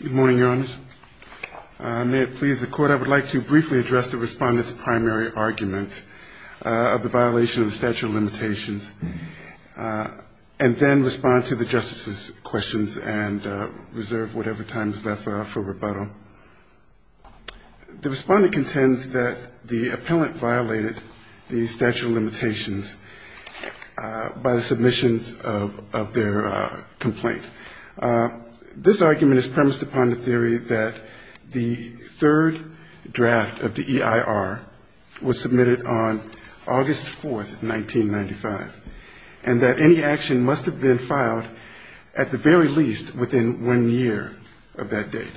Good morning, Your Honors. May it please the Court, I would like to briefly address the Respondent's primary argument of the violation of the statute of limitations, and then respond to the Justice's questions and reserve whatever time is left for rebuttal. The Respondent contends that the appellant violated the statute of limitations by the submissions of their complaint. This argument is premised upon the theory that the third draft of the EIR was submitted on August 4th, 1995, and that any action must have been filed at the very least within one year of that date.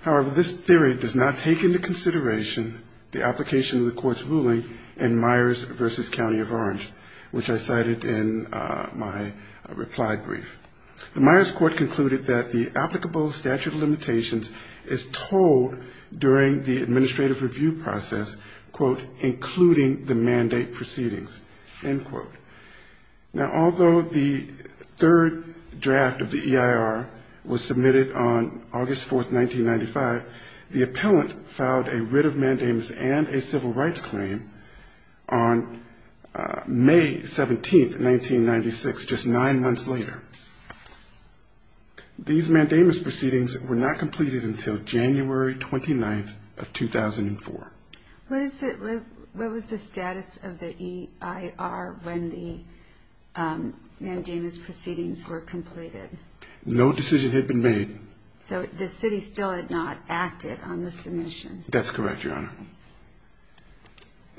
However, this theory does not take into consideration the application of the Court's ruling in Myers v. County of Orange, which I cited in my reply brief. The Myers Court concluded that the applicable statute of limitations is told during the administrative review process, quote, including the mandate proceedings, end quote. Now, although the third draft of the EIR was submitted on August 4th, 1995, the appellant filed a writ of mandamus and a civil rights claim on May 17th, 1996, just nine months later. These mandamus proceedings were not completed until January 29th of 2004. What was the status of the EIR when the mandamus proceedings were completed? No decision had been made. So the city still had not acted on the submission? That's correct, Your Honor.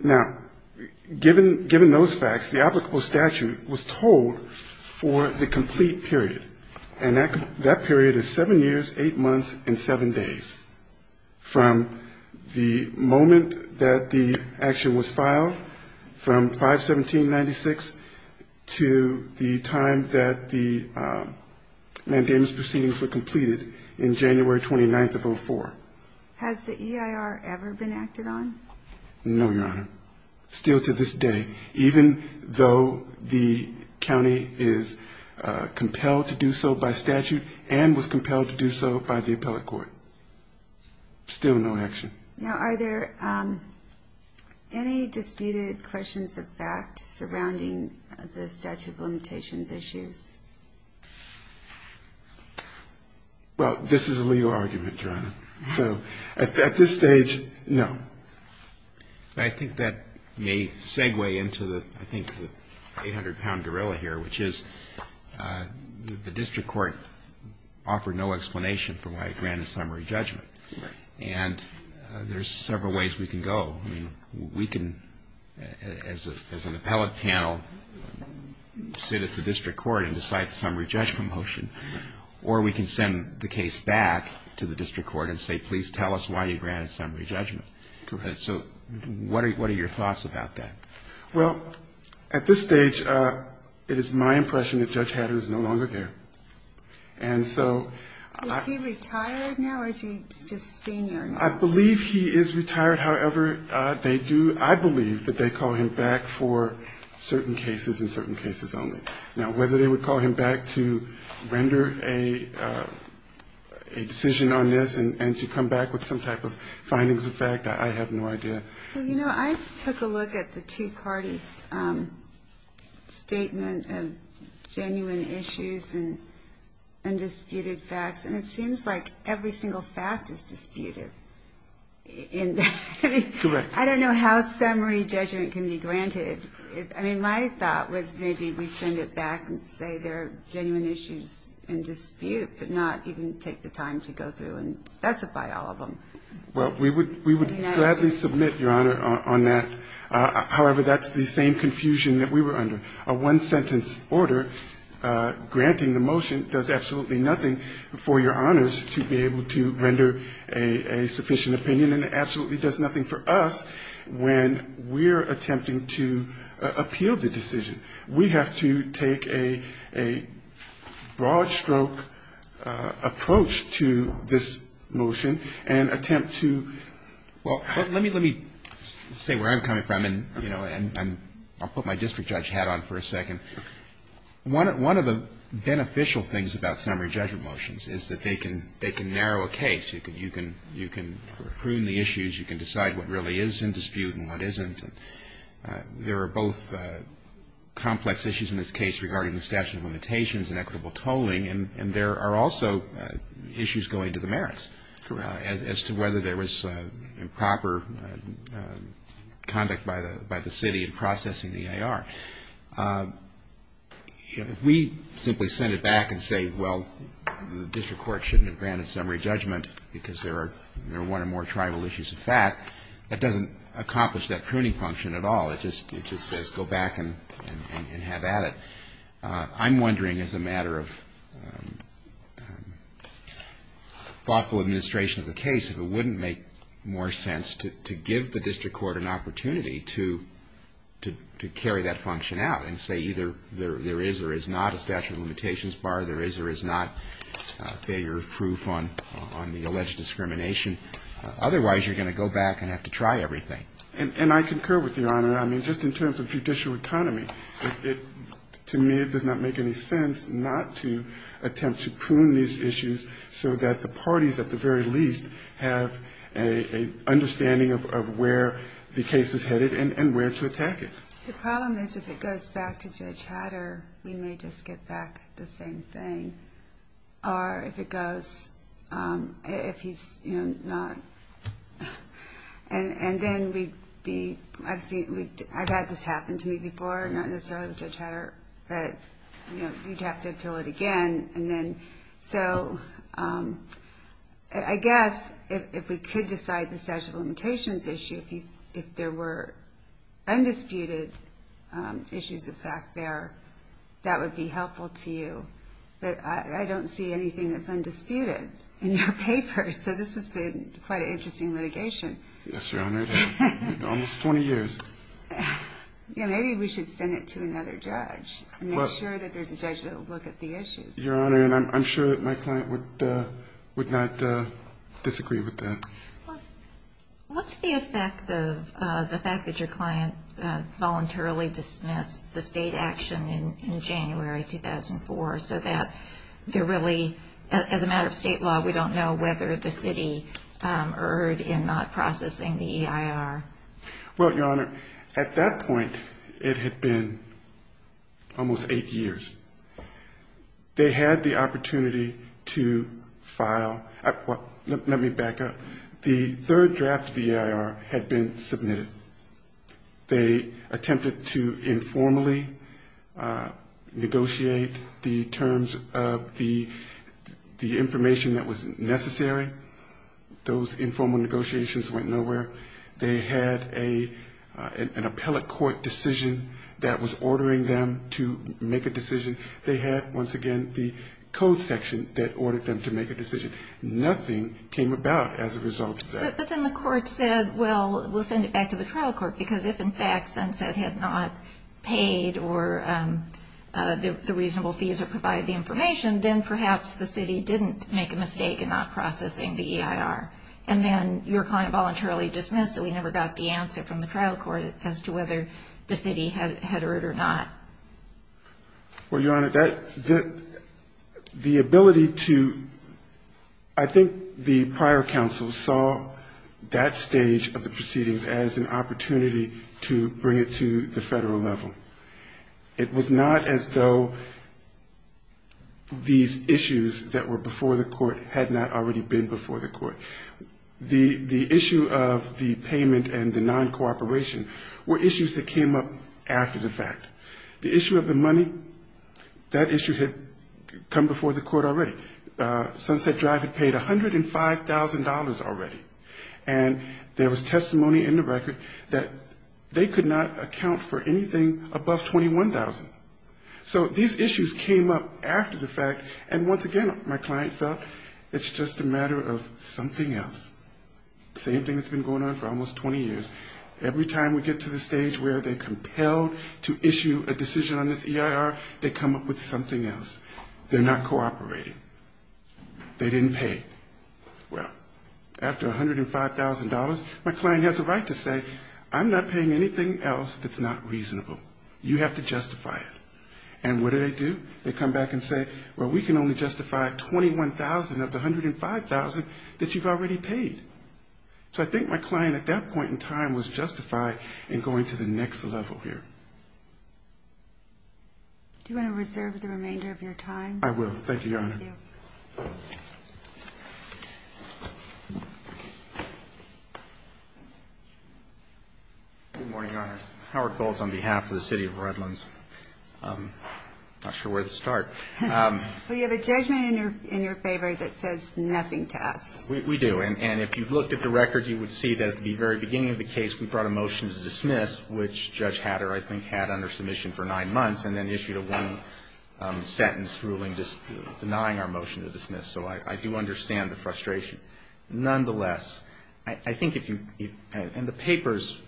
Now, given those facts, the applicable statute was told for the complete period, and that period is seven years, eight months, and seven days, from the moment that the action was filed from 5-17-96 to the time that the mandamus proceedings were completed in January 29th of 2004. Has the EIR ever been acted on? No, Your Honor. Still to this day, even though the county is compelled to do so by statute and was compelled to do so by the appellate court. Still no action. Now, are there any disputed questions of fact surrounding the statute of limitations issues? Well, this is a legal argument, Your Honor. So at this stage, no. I think that may segue into the, I think, the 800-pound gorilla here, which is the district court offered no explanation for why it granted summary judgment. Right. And there's several ways we can go. I mean, we can, as an appellate panel, sit at the district court and decide the summary judgment motion. Or we can send the case back to the district court and say, please tell us why you granted summary judgment. Correct. So what are your thoughts about that? Well, at this stage, it is my impression that Judge Hatter is no longer there. And so ‑‑ Is he retired now, or is he just senior? I believe he is retired. However, they do, I believe that they call him back for certain cases and certain cases only. Now, whether they would call him back to render a decision on this and to come back with some type of findings of fact, I have no idea. Well, you know, I took a look at the two parties' statement of genuine issues and undisputed facts, and it seems like every single fact is disputed. Correct. I don't know how summary judgment can be granted. I mean, my thought was maybe we send it back and say there are genuine issues in dispute, but not even take the time to go through and specify all of them. Well, we would gladly submit, Your Honor, on that. However, that's the same confusion that we were under. A one-sentence order granting the motion does absolutely nothing for Your Honors to be able to render a sufficient opinion, and it absolutely does nothing for us when we're attempting to appeal the decision. We have to take a broad-stroke approach to this motion and attempt to ---- Well, let me say where I'm coming from, and I'll put my district judge hat on for a second. One of the beneficial things about summary judgment motions is that they can narrow a case. You can prune the issues. You can decide what really is in dispute and what isn't. There are both complex issues in this case regarding the statute of limitations and equitable tolling, and there are also issues going to the merits as to whether there was improper conduct by the city in processing the EIR. If we simply send it back and say, well, the district court shouldn't have granted summary judgment because there are one or more It just says go back and have at it. I'm wondering, as a matter of thoughtful administration of the case, if it wouldn't make more sense to give the district court an opportunity to carry that function out and say either there is or is not a statute of limitations bar, there is or is not failure proof on the alleged discrimination. Otherwise, you're going to go back and have to try everything. And I concur with Your Honor. I mean, just in terms of judicial economy, to me, it does not make any sense not to attempt to prune these issues so that the parties, at the very least, have an understanding of where the case is headed and where to attack it. The problem is if it goes back to Judge Hatter, we may just get back the same thing. Or if it goes, if he's not, and then we'd be, I've had this happen to me before, not necessarily with Judge Hatter, but you'd have to appeal it again. And then so I guess if we could decide the statute of limitations issue, if there were undisputed issues of fact there, that would be helpful to you. But I don't see anything that's undisputed in your papers. So this has been quite an interesting litigation. Yes, Your Honor. It has. Almost 20 years. Yeah, maybe we should send it to another judge and make sure that there's a judge that will look at the issues. Your Honor, and I'm sure that my client would not disagree with that. What's the effect of the fact that your client voluntarily dismissed the state action in January 2004, so that there really, as a matter of state law, we don't know whether the city erred in not processing the EIR? Well, Your Honor, at that point it had been almost eight years. They had the opportunity to file, well, let me back up. The third draft of the EIR had been submitted. They attempted to informally negotiate the terms of the information that was necessary. Those informal negotiations went nowhere. They had an appellate court decision that was ordering them to make a decision. They had, once again, the code section that ordered them to make a decision. Nothing came about as a result of that. But then the court said, well, we'll send it back to the trial court, because if, in fact, Sunset had not paid the reasonable fees or provided the information, then perhaps the city didn't make a mistake in not processing the EIR. And then your client voluntarily dismissed it. We never got the answer from the trial court as to whether the city had erred or not. Well, Your Honor, the ability to, I think the prior counsel saw that stage of the proceedings as an opportunity to bring it to the federal level. It was not as though these issues that were before the court had not already been before the court. The issue of the payment and the non-cooperation were issues that came up after the fact. The issue of the money, that issue had come before the court already. Sunset Drive had paid $105,000 already. And there was testimony in the record that they could not account for anything above $21,000. So these issues came up after the fact, and once again, my client felt it's just a matter of something else. Same thing that's been going on for almost 20 years. Every time we get to the stage where they're compelled to issue a decision on this EIR, they come up with something else. They're not cooperating. They didn't pay. Well, after $105,000, my client has a right to say, I'm not paying anything else that's not reasonable. You have to justify it. And what do they do? They come back and say, well, we can only justify $21,000 of the $105,000 that you've already paid. So I think my client at that point in time was justified in going to the next level here. Good morning, Your Honor. Howard Golds on behalf of the City of Redlands. I'm not sure where to start. We have a judgment in your favor that says nothing to us. We do. And if you looked at the record, you would see that at the very beginning of the case, we brought a motion to dismiss, which Judge Hatter, I think, had under submission for nine months, and then issued a one-sentence ruling denying our motion to dismiss. So I do understand the frustration. Nonetheless, I think if you, and the papers,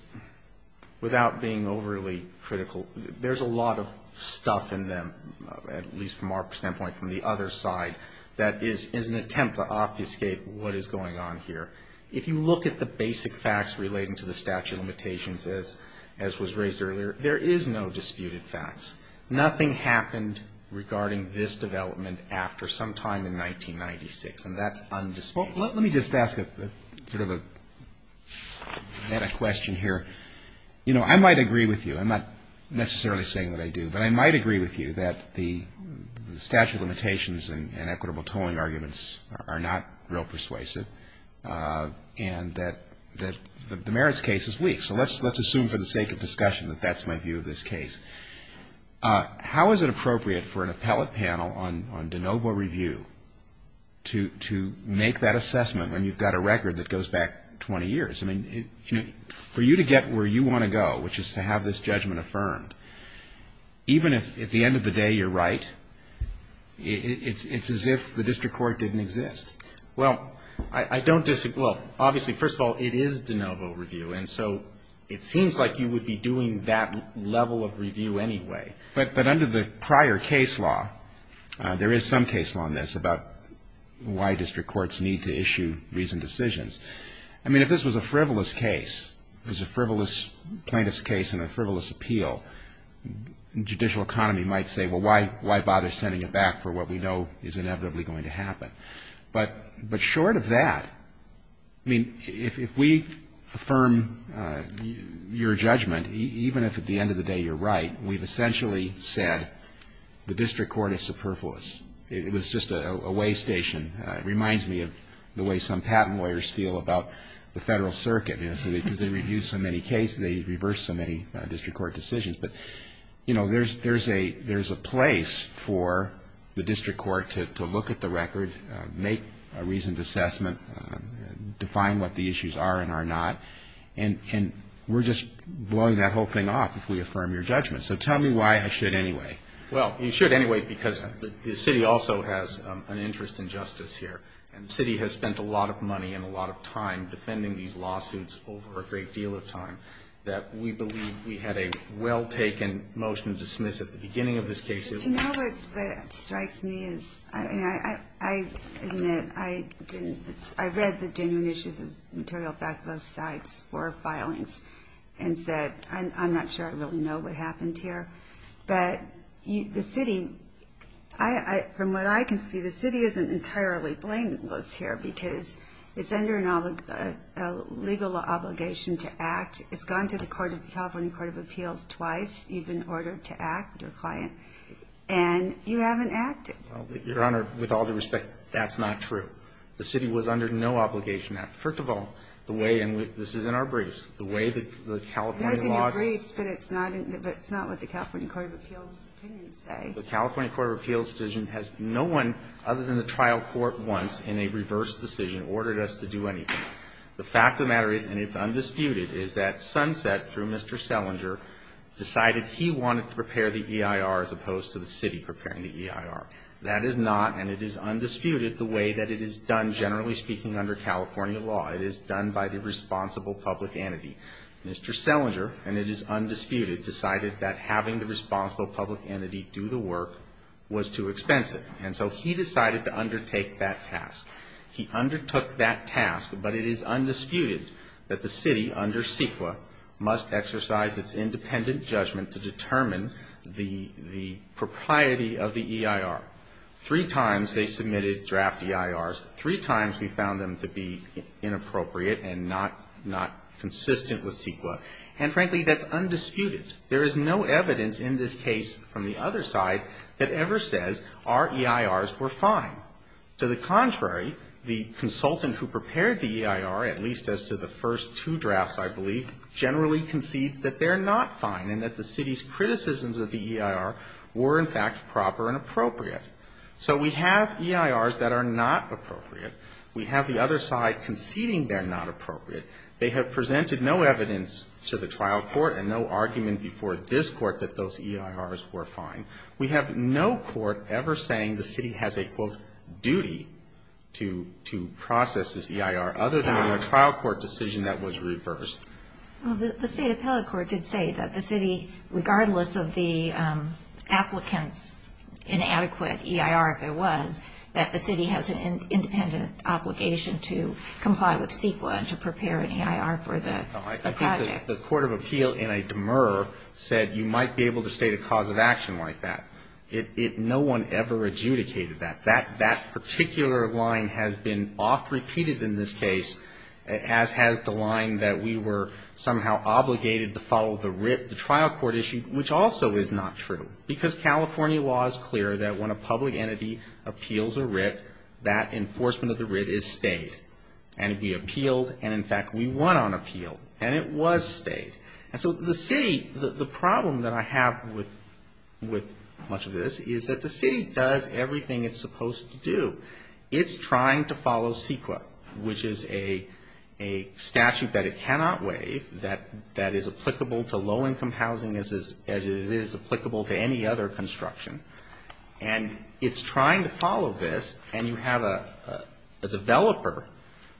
without being overly critical, there's a lot of stuff in them, at least from our standpoint, from the other side, that is an attempt to obfuscate what is going on here. If you look at the basic facts relating to the statute of limitations, as was raised earlier, there is no disputed facts. Nothing happened regarding this development after some time in 1996, and that's undisputed. Well, let me just ask sort of a question here. You know, I might agree with you. I'm not necessarily saying that I do, but I might agree with you that the statute of limitations and equitable tolling arguments are not real persuasive, and that the merits case is weak. So let's assume for the sake of discussion that that's my view of this case. How is it appropriate for an appellate panel on de novo review to make that assessment when you've got a record that goes back 20 years? I mean, for you to get where you want to go, which is to have this judgment affirmed, even if at the end of the day you're right, it's as if the district court didn't exist. Well, I don't disagree. Well, obviously, first of all, it is de novo review, and so it seems like you would be doing that level of review anyway. But under the prior case law, there is some case law on this about why district courts need to issue reasoned decisions. I mean, if this was a frivolous case, it was a frivolous plaintiff's case and a frivolous appeal, judicial economy might say, well, why bother sending it back for what we know is inevitably going to happen. But short of that, I mean, if we affirm your judgment, even if at the end of the day you're right, we've essentially said the district court is superfluous. It was just a way station. It reminds me of the way some patent lawyers feel about the Federal Circuit, you know, because they review so many cases, they reverse so many district court decisions. But, you know, there's a place for the district court to look at the record, make a reasoned assessment, define what the issues are and are not, and we're just blowing that whole thing off if we affirm your judgment. So tell me why I should anyway. Well, you should anyway because the city also has an interest in justice here, and the city has spent a lot of money and a lot of time defending these lawsuits over a great deal of time that we believe we had a well-taken motion to dismiss at the beginning of this case. You know, what strikes me is, I mean, I admit I didn't, I read the genuine issues of material back at those sites for filings and said, I'm not sure I really know what happened here. But the city, from what I can see, the city isn't entirely blameless here because it's under a legal obligation to act. It's gone to the California Court of Appeals twice, you've been ordered to act, your client, and you haven't acted. Your Honor, with all due respect, that's not true. The city was under no obligation. First of all, the way, and this is in our briefs, the way that the California laws. It was in your briefs, but it's not what the California Court of Appeals opinions say. The California Court of Appeals decision has no one other than the trial court once in a reverse decision ordered us to do anything. The fact of the matter is, and it's undisputed, is that Sunset, through Mr. Selinger, decided he wanted to prepare the EIR as opposed to the city preparing the EIR. That is not, and it is undisputed, the way that it is done, generally speaking, under California law. It is done by the responsible public entity. Mr. Selinger, and it is undisputed, decided that having the responsible public entity do the work was too expensive. And so he decided to undertake that task. He undertook that task, but it is undisputed that the city under CEQA must exercise its independent judgment to determine the propriety of the EIR. Three times they submitted draft EIRs. Three times we found them to be inappropriate and not consistent with CEQA. And frankly, that's undisputed. There is no evidence in this case from the other side that ever says our EIRs were fine. To the contrary, the consultant who prepared the EIR, at least as to the first two drafts, I believe, generally concedes that they're not fine and that the city's criticisms of the EIR were, in fact, proper and appropriate. So we have EIRs that are not appropriate. We have the other side conceding they're not appropriate. They have presented no evidence to the trial court and no argument before this court that those EIRs were fine. We have no court ever saying the city has a, quote, duty to process this EIR, other than a trial court decision that was reversed. Well, the state appellate court did say that the city, regardless of the applicant's inadequate EIR, if it was, that the city has an independent obligation to comply with CEQA and to prepare an EIR for the project. I think the court of appeal, in a demur, said you might be able to state a cause of action like that. No one ever adjudicated that. That particular line has been oft repeated in this case, as has the line that we were somehow obligated to follow the writ, the trial court issue, which also is not true, because California law is clear that when a public entity appeals a writ, that enforcement of the writ is stayed. And it'd be appealed, and, in fact, we won on appeal. And it was stayed. And so the city, the problem that I have with much of this, is that the city does everything it's supposed to do. It's trying to follow CEQA, which is a statute that it cannot waive, that is applicable to low-income housing as it is applicable to any other construction. And it's trying to follow this, and you have a developer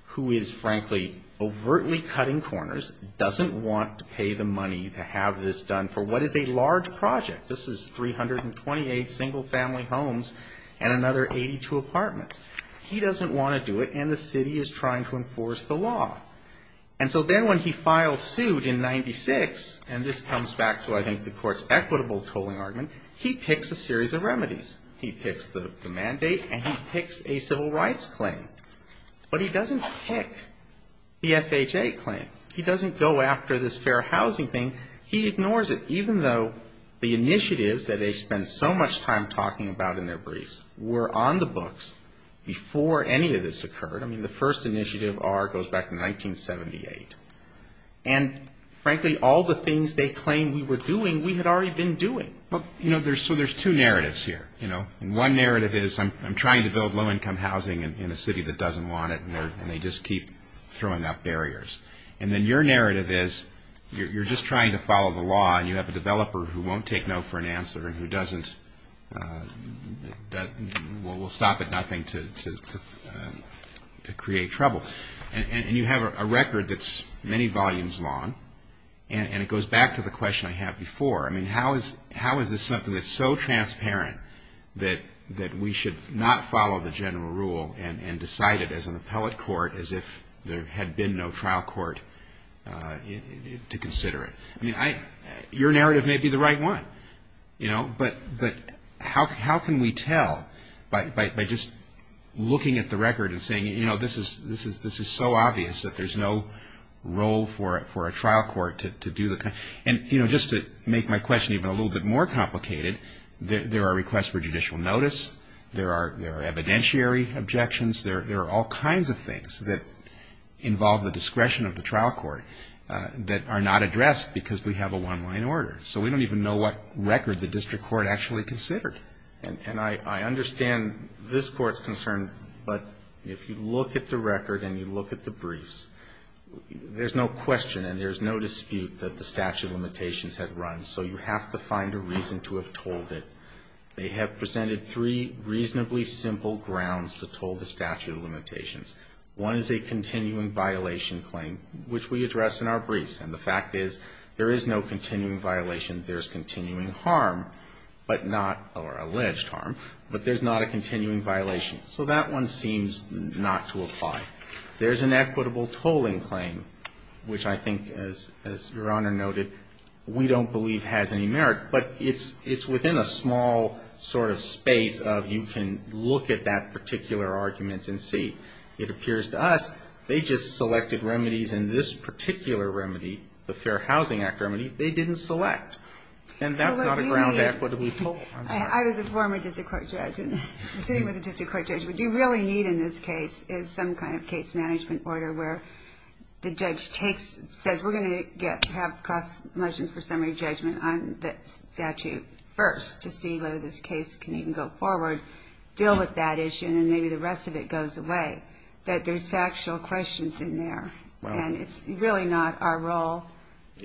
who is, frankly, overtly cutting corners, doesn't want to pay the money to have this done for what is a large project. This is 328 single-family homes and another 82 apartments. He doesn't want to do it, and the city is trying to enforce the law. And so then when he files suit in 96, and this comes back to, I think, the court's case, he picks the mandate, and he picks a civil rights claim. But he doesn't pick the FHA claim. He doesn't go after this fair housing thing. He ignores it, even though the initiatives that they spend so much time talking about in their briefs were on the books before any of this occurred. I mean, the first initiative goes back to 1978. And, frankly, all the things they claimed we were doing, we had already been doing. So there's two narratives here. One narrative is I'm trying to build low-income housing in a city that doesn't want it, and they just keep throwing out barriers. And then your narrative is you're just trying to follow the law, and you have a developer who won't take no for an answer and who doesn't. We'll stop at nothing to create trouble. And you have a record that's many volumes long, and it goes back to the question I had before. I mean, how is this something that's so transparent that we should not follow the general rule and decide it as an appellate court as if there had been no trial court to consider it? I mean, your narrative may be the right one, you know, but how can we tell by just looking at the record and saying, you know, this is so obvious that there's no role for a trial court to do the kind of, and, you know, just to make my question even a little bit more complicated, there are requests for judicial notice, there are evidentiary objections, there are all kinds of things that involve the discretion of the trial court that are not addressed because we have a one-line order. So we don't even know what record the district court actually considered. And I understand this Court's concern, but if you look at the record and you look at the briefs, there's no question and there's no dispute that the statute of limitations had run, so you have to find a reason to have told it. They have presented three reasonably simple grounds to toll the statute of limitations. One is a continuing violation claim, which we address in our briefs. And the fact is there is no continuing violation, there's continuing harm, but not, or alleged harm, but there's not a continuing violation. So that one seems not to apply. There's an equitable tolling claim, which I think, as Your Honor noted, we don't believe has any merit, but it's within a small sort of space of you can look at that particular argument and see, it appears to us, they just selected remedies and this particular remedy, the Fair Housing Act remedy, they didn't select. And that's not a ground equitable toll. I was a former district court judge and sitting with a district court judge, what you really need in this case is some kind of case management order where the judge takes, says, we're going to have cross motions for summary judgment on that statute first to see whether this case can even go forward, deal with that issue, and then maybe the rest of it goes away. But there's factual questions in there, and it's really not our role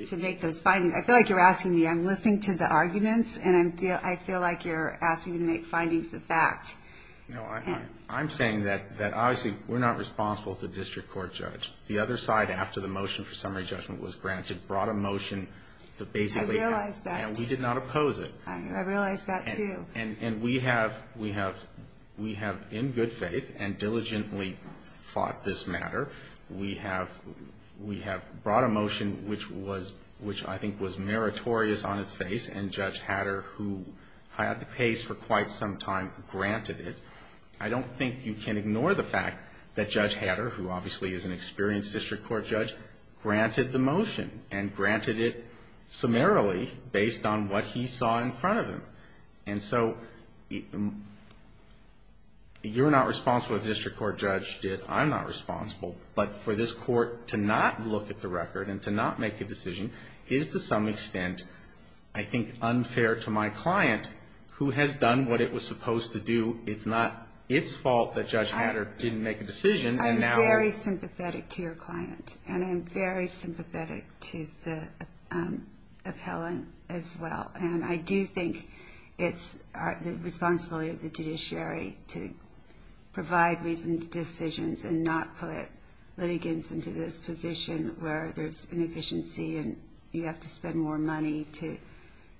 to make those findings. I feel like you're asking me, I'm listening to the arguments, and I feel like you're asking me to make findings of fact. No, I'm saying that obviously we're not responsible to the district court judge. The other side, after the motion for summary judgment, we have in good faith and diligently fought this matter, we have brought a motion which I think was meritorious on its face, and Judge Hatter, who had the pace for quite some time, granted it. I don't think you can ignore the fact that Judge Hatter, who obviously is an experienced district court judge, granted the motion and granted it summarily based on what he saw in front of him. And so you're not responsible if the district court judge did, I'm not responsible, but for this court to not look at the record and to not make a decision is to some extent I think unfair to my client who has done what it was supposed to do. It's not its fault that Judge Hatter didn't make a decision. I'm very sympathetic to your client, and I'm very sympathetic to the appellant as well. And I do think it's the responsibility of the judiciary to provide reasoned decisions and not put litigants into this position where there's inefficiency and you have to spend more money to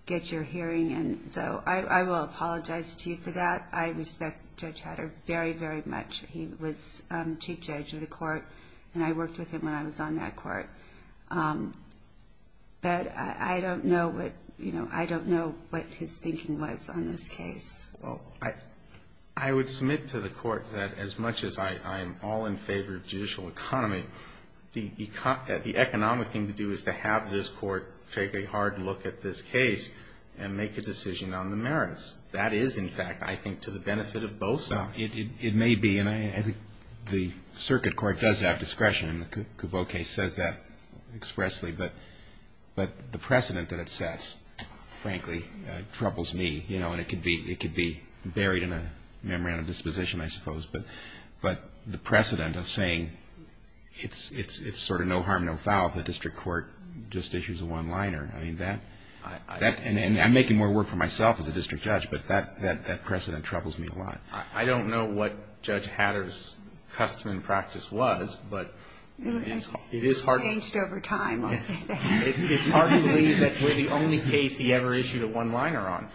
get your hearing. And so I will apologize to you for that. I respect Judge Hatter very, very much. He was chief judge of the court, and I worked with him when I was on that court. But I don't know what, you know, I don't know what his thinking was on this case. I would submit to the court that as much as I am all in favor of judicial economy, the economic thing to do is to have this court take a hard look at this case and make a decision on the merits. That is, in fact, I think to the benefit of both sides. It may be, and I think the circuit court does have discretion, and the Couveau case says that expressly. But the precedent that it sets, frankly, troubles me. You know, and it could be buried in a memorandum of disposition, I suppose. But the precedent of saying it's sort of no harm, no foul if the district court just issues a one-liner. I mean, that, and I'm making more work for myself as a district judge, but that precedent troubles me a lot. I don't know what Judge Hatter's custom and practice was, but it is hard. It's changed over time, I'll say that. It's hard to believe that we're the only case he ever issued a one-liner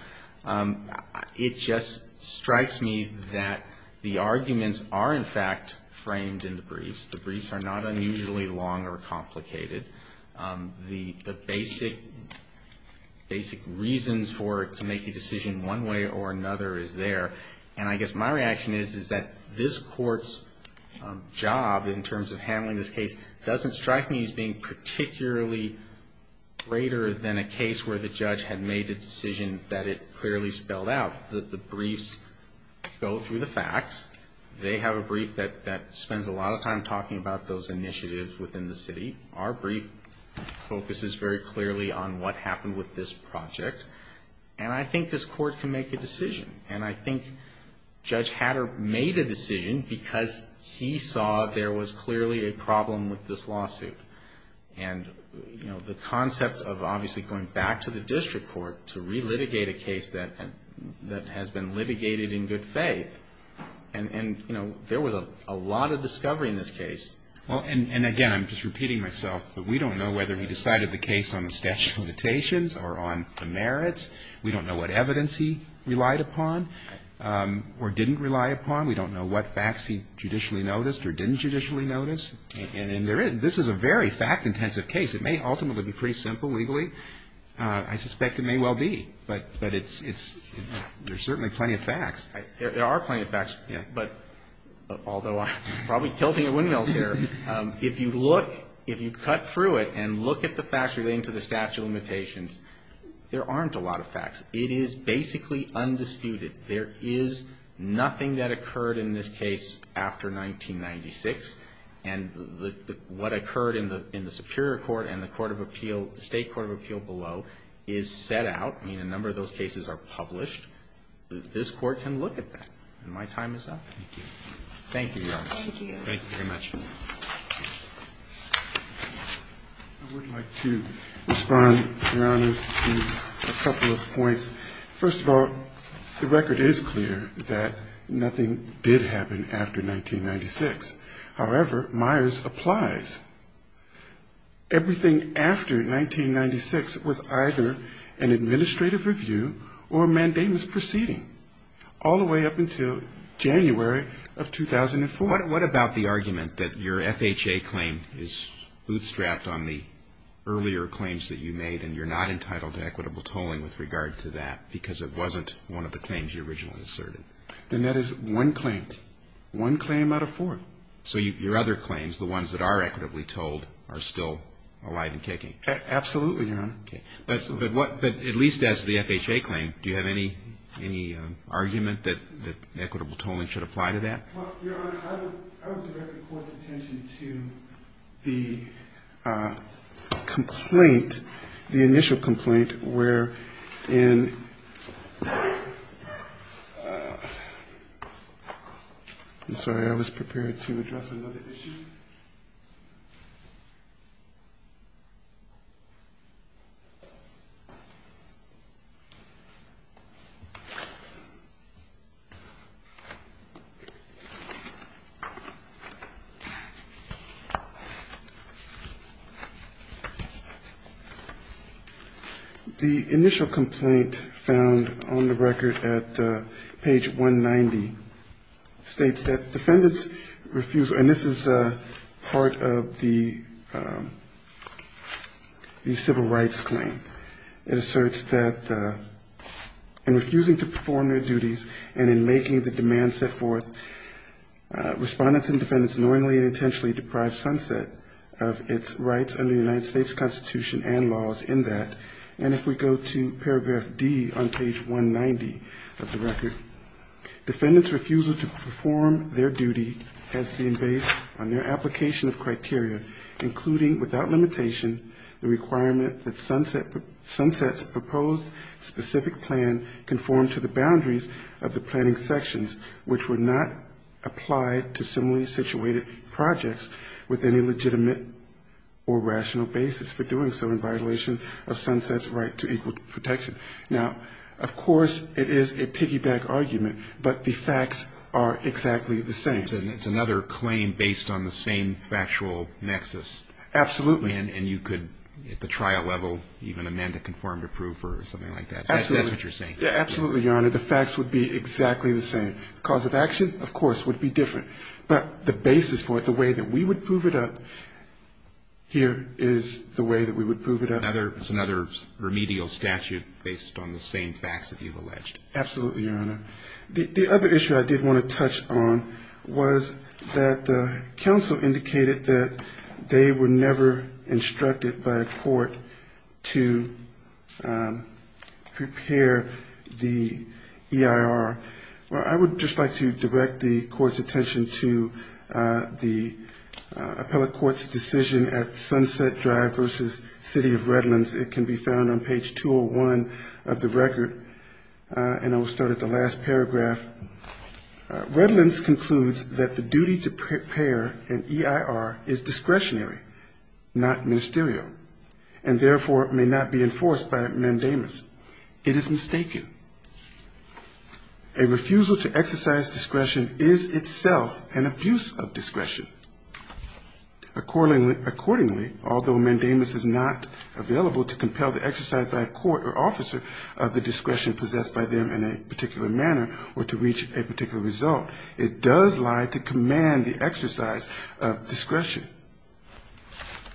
on. It just strikes me that the arguments are, in fact, framed in the briefs. The briefs are not unusually long or complicated. The basic reasons for it to make a decision one way or another is there. And I guess my reaction is, is that this court's job in terms of handling this case doesn't strike me as being particularly greater than a case where the judge had made a decision that it clearly spelled out. The briefs go through the facts. They have a brief that spends a lot of time talking about those initiatives within the city. Our brief focuses very clearly on what happened with this project, and I think this court can make a decision. And I think Judge Hatter made a decision because he saw there was clearly a problem with this lawsuit. And, you know, the concept of obviously going back to the district court to relitigate a case that has been litigated in good faith, and, you know, there was a lot of discovery in this case. Well, and again, I'm just repeating myself, but we don't know whether he decided the case on the statute of limitations or on the merits. We don't know what evidence he relied upon or didn't rely upon. We don't know what facts he judicially noticed or didn't judicially notice. And this is a very fact-intensive case. It may ultimately be pretty simple legally. I suspect it may well be, but there's certainly plenty of facts. There are plenty of facts, but although I'm probably tilting at windmills here, if you look, if you cut through it and look at the facts relating to the statute of limitations, there aren't a lot of facts. It is basically undisputed. There is nothing that occurred in this case after 1996. And what occurred in the Superior Court and the Court of Appeal, State Court of Appeal below, is set out. I mean, a number of those cases are published. This Court can look at that. And my time is up. Thank you, Your Honor. Thank you. Thank you very much. I would like to respond, Your Honor, to a couple of points. First of all, the record is clear that nothing did happen after 1996. However, Myers applies. Everything after 1996 was either an administrative review or a mandamus proceeding. All the way up until January of 2004. What about the argument that your FHA claim is bootstrapped on the earlier claims that you made and you're not entitled to equitable tolling with regard to that because it wasn't one of the claims you originally asserted? Then that is one claim. One claim out of four. So your other claims, the ones that are equitably tolled, are still alive and kicking? Absolutely, Your Honor. Okay. But at least as the FHA claim, do you have any argument that equitable tolling should apply to that? Your Honor, I would direct the Court's attention to the complaint, the initial complaint, where in ‑‑ I'm sorry, I was prepared to address another issue. The initial complaint found on the record at page 190 states that defendants refuse ‑‑ and this is part of the civil rights claim. It asserts that in refusing to perform their duties and in making the demands set forth, respondents and defendants knowingly and intentionally deprived sunset of its rights under the United States Constitution and laws in that. And if we go to paragraph D on page 190 of the record, defendants' refusal to perform their duty has been based on their application of criteria, including without limitation the requirement that sunset's proposed specific plan conform to the boundaries of the planning sections, which would not apply to similarly situated projects with any legitimate or rational basis for doing so in violation of sunset's right to equal protection. Now, of course, it is a piggyback argument, but the facts are exactly the same. It's another claim based on the same factual nexus. Absolutely. And you could, at the trial level, even amend a conformative proof or something like that. Absolutely. That's what you're saying. Yeah, absolutely, Your Honor. The facts would be exactly the same. Cause of action, of course, would be different. But the basis for it, the way that we would prove it up here is the way that we would prove it up. Another remedial statute based on the same facts that you've alleged. Absolutely, Your Honor. The other issue I did want to touch on was that counsel indicated that they were never instructed by a court to prepare the EIR. Well, I would just like to direct the Court's attention to the appellate court's decision at Sunset Drive v. City of Redlands. It can be found on page 201 of the record. And I will start at the last paragraph. Redlands concludes that the duty to prepare an EIR is discretionary, not ministerial, and therefore may not be enforced by mandamus. It is mistaken. A refusal to exercise discretion is itself an abuse of discretion. Accordingly, although mandamus is not available to compel the exercise by a court or officer of the discretion possessed by them in a particular manner or to reach a particular result, it does lie to command the exercise of discretion.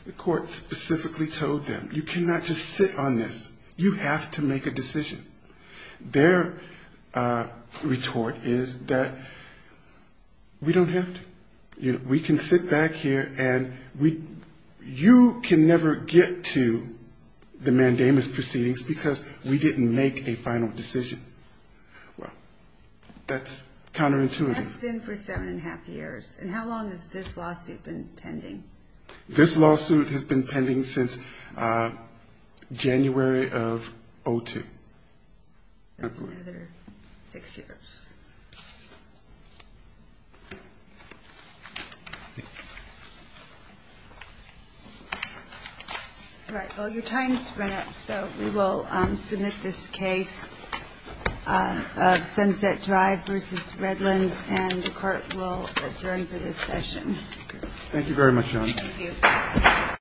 The court specifically told them, you cannot just sit on this. You have to make a decision. Their retort is that we don't have to. We can sit back here and you can never get to the mandamus proceedings because we didn't make a final decision. Well, that's counterintuitive. That's been for seven and a half years. And how long has this lawsuit been pending? This lawsuit has been pending since January of 2002. That's another six years. All right. Well, your time has run up, so we will submit this case of Sunset Drive v. Redlands, and the Court will adjourn for this session. Thank you very much, John. Thank you.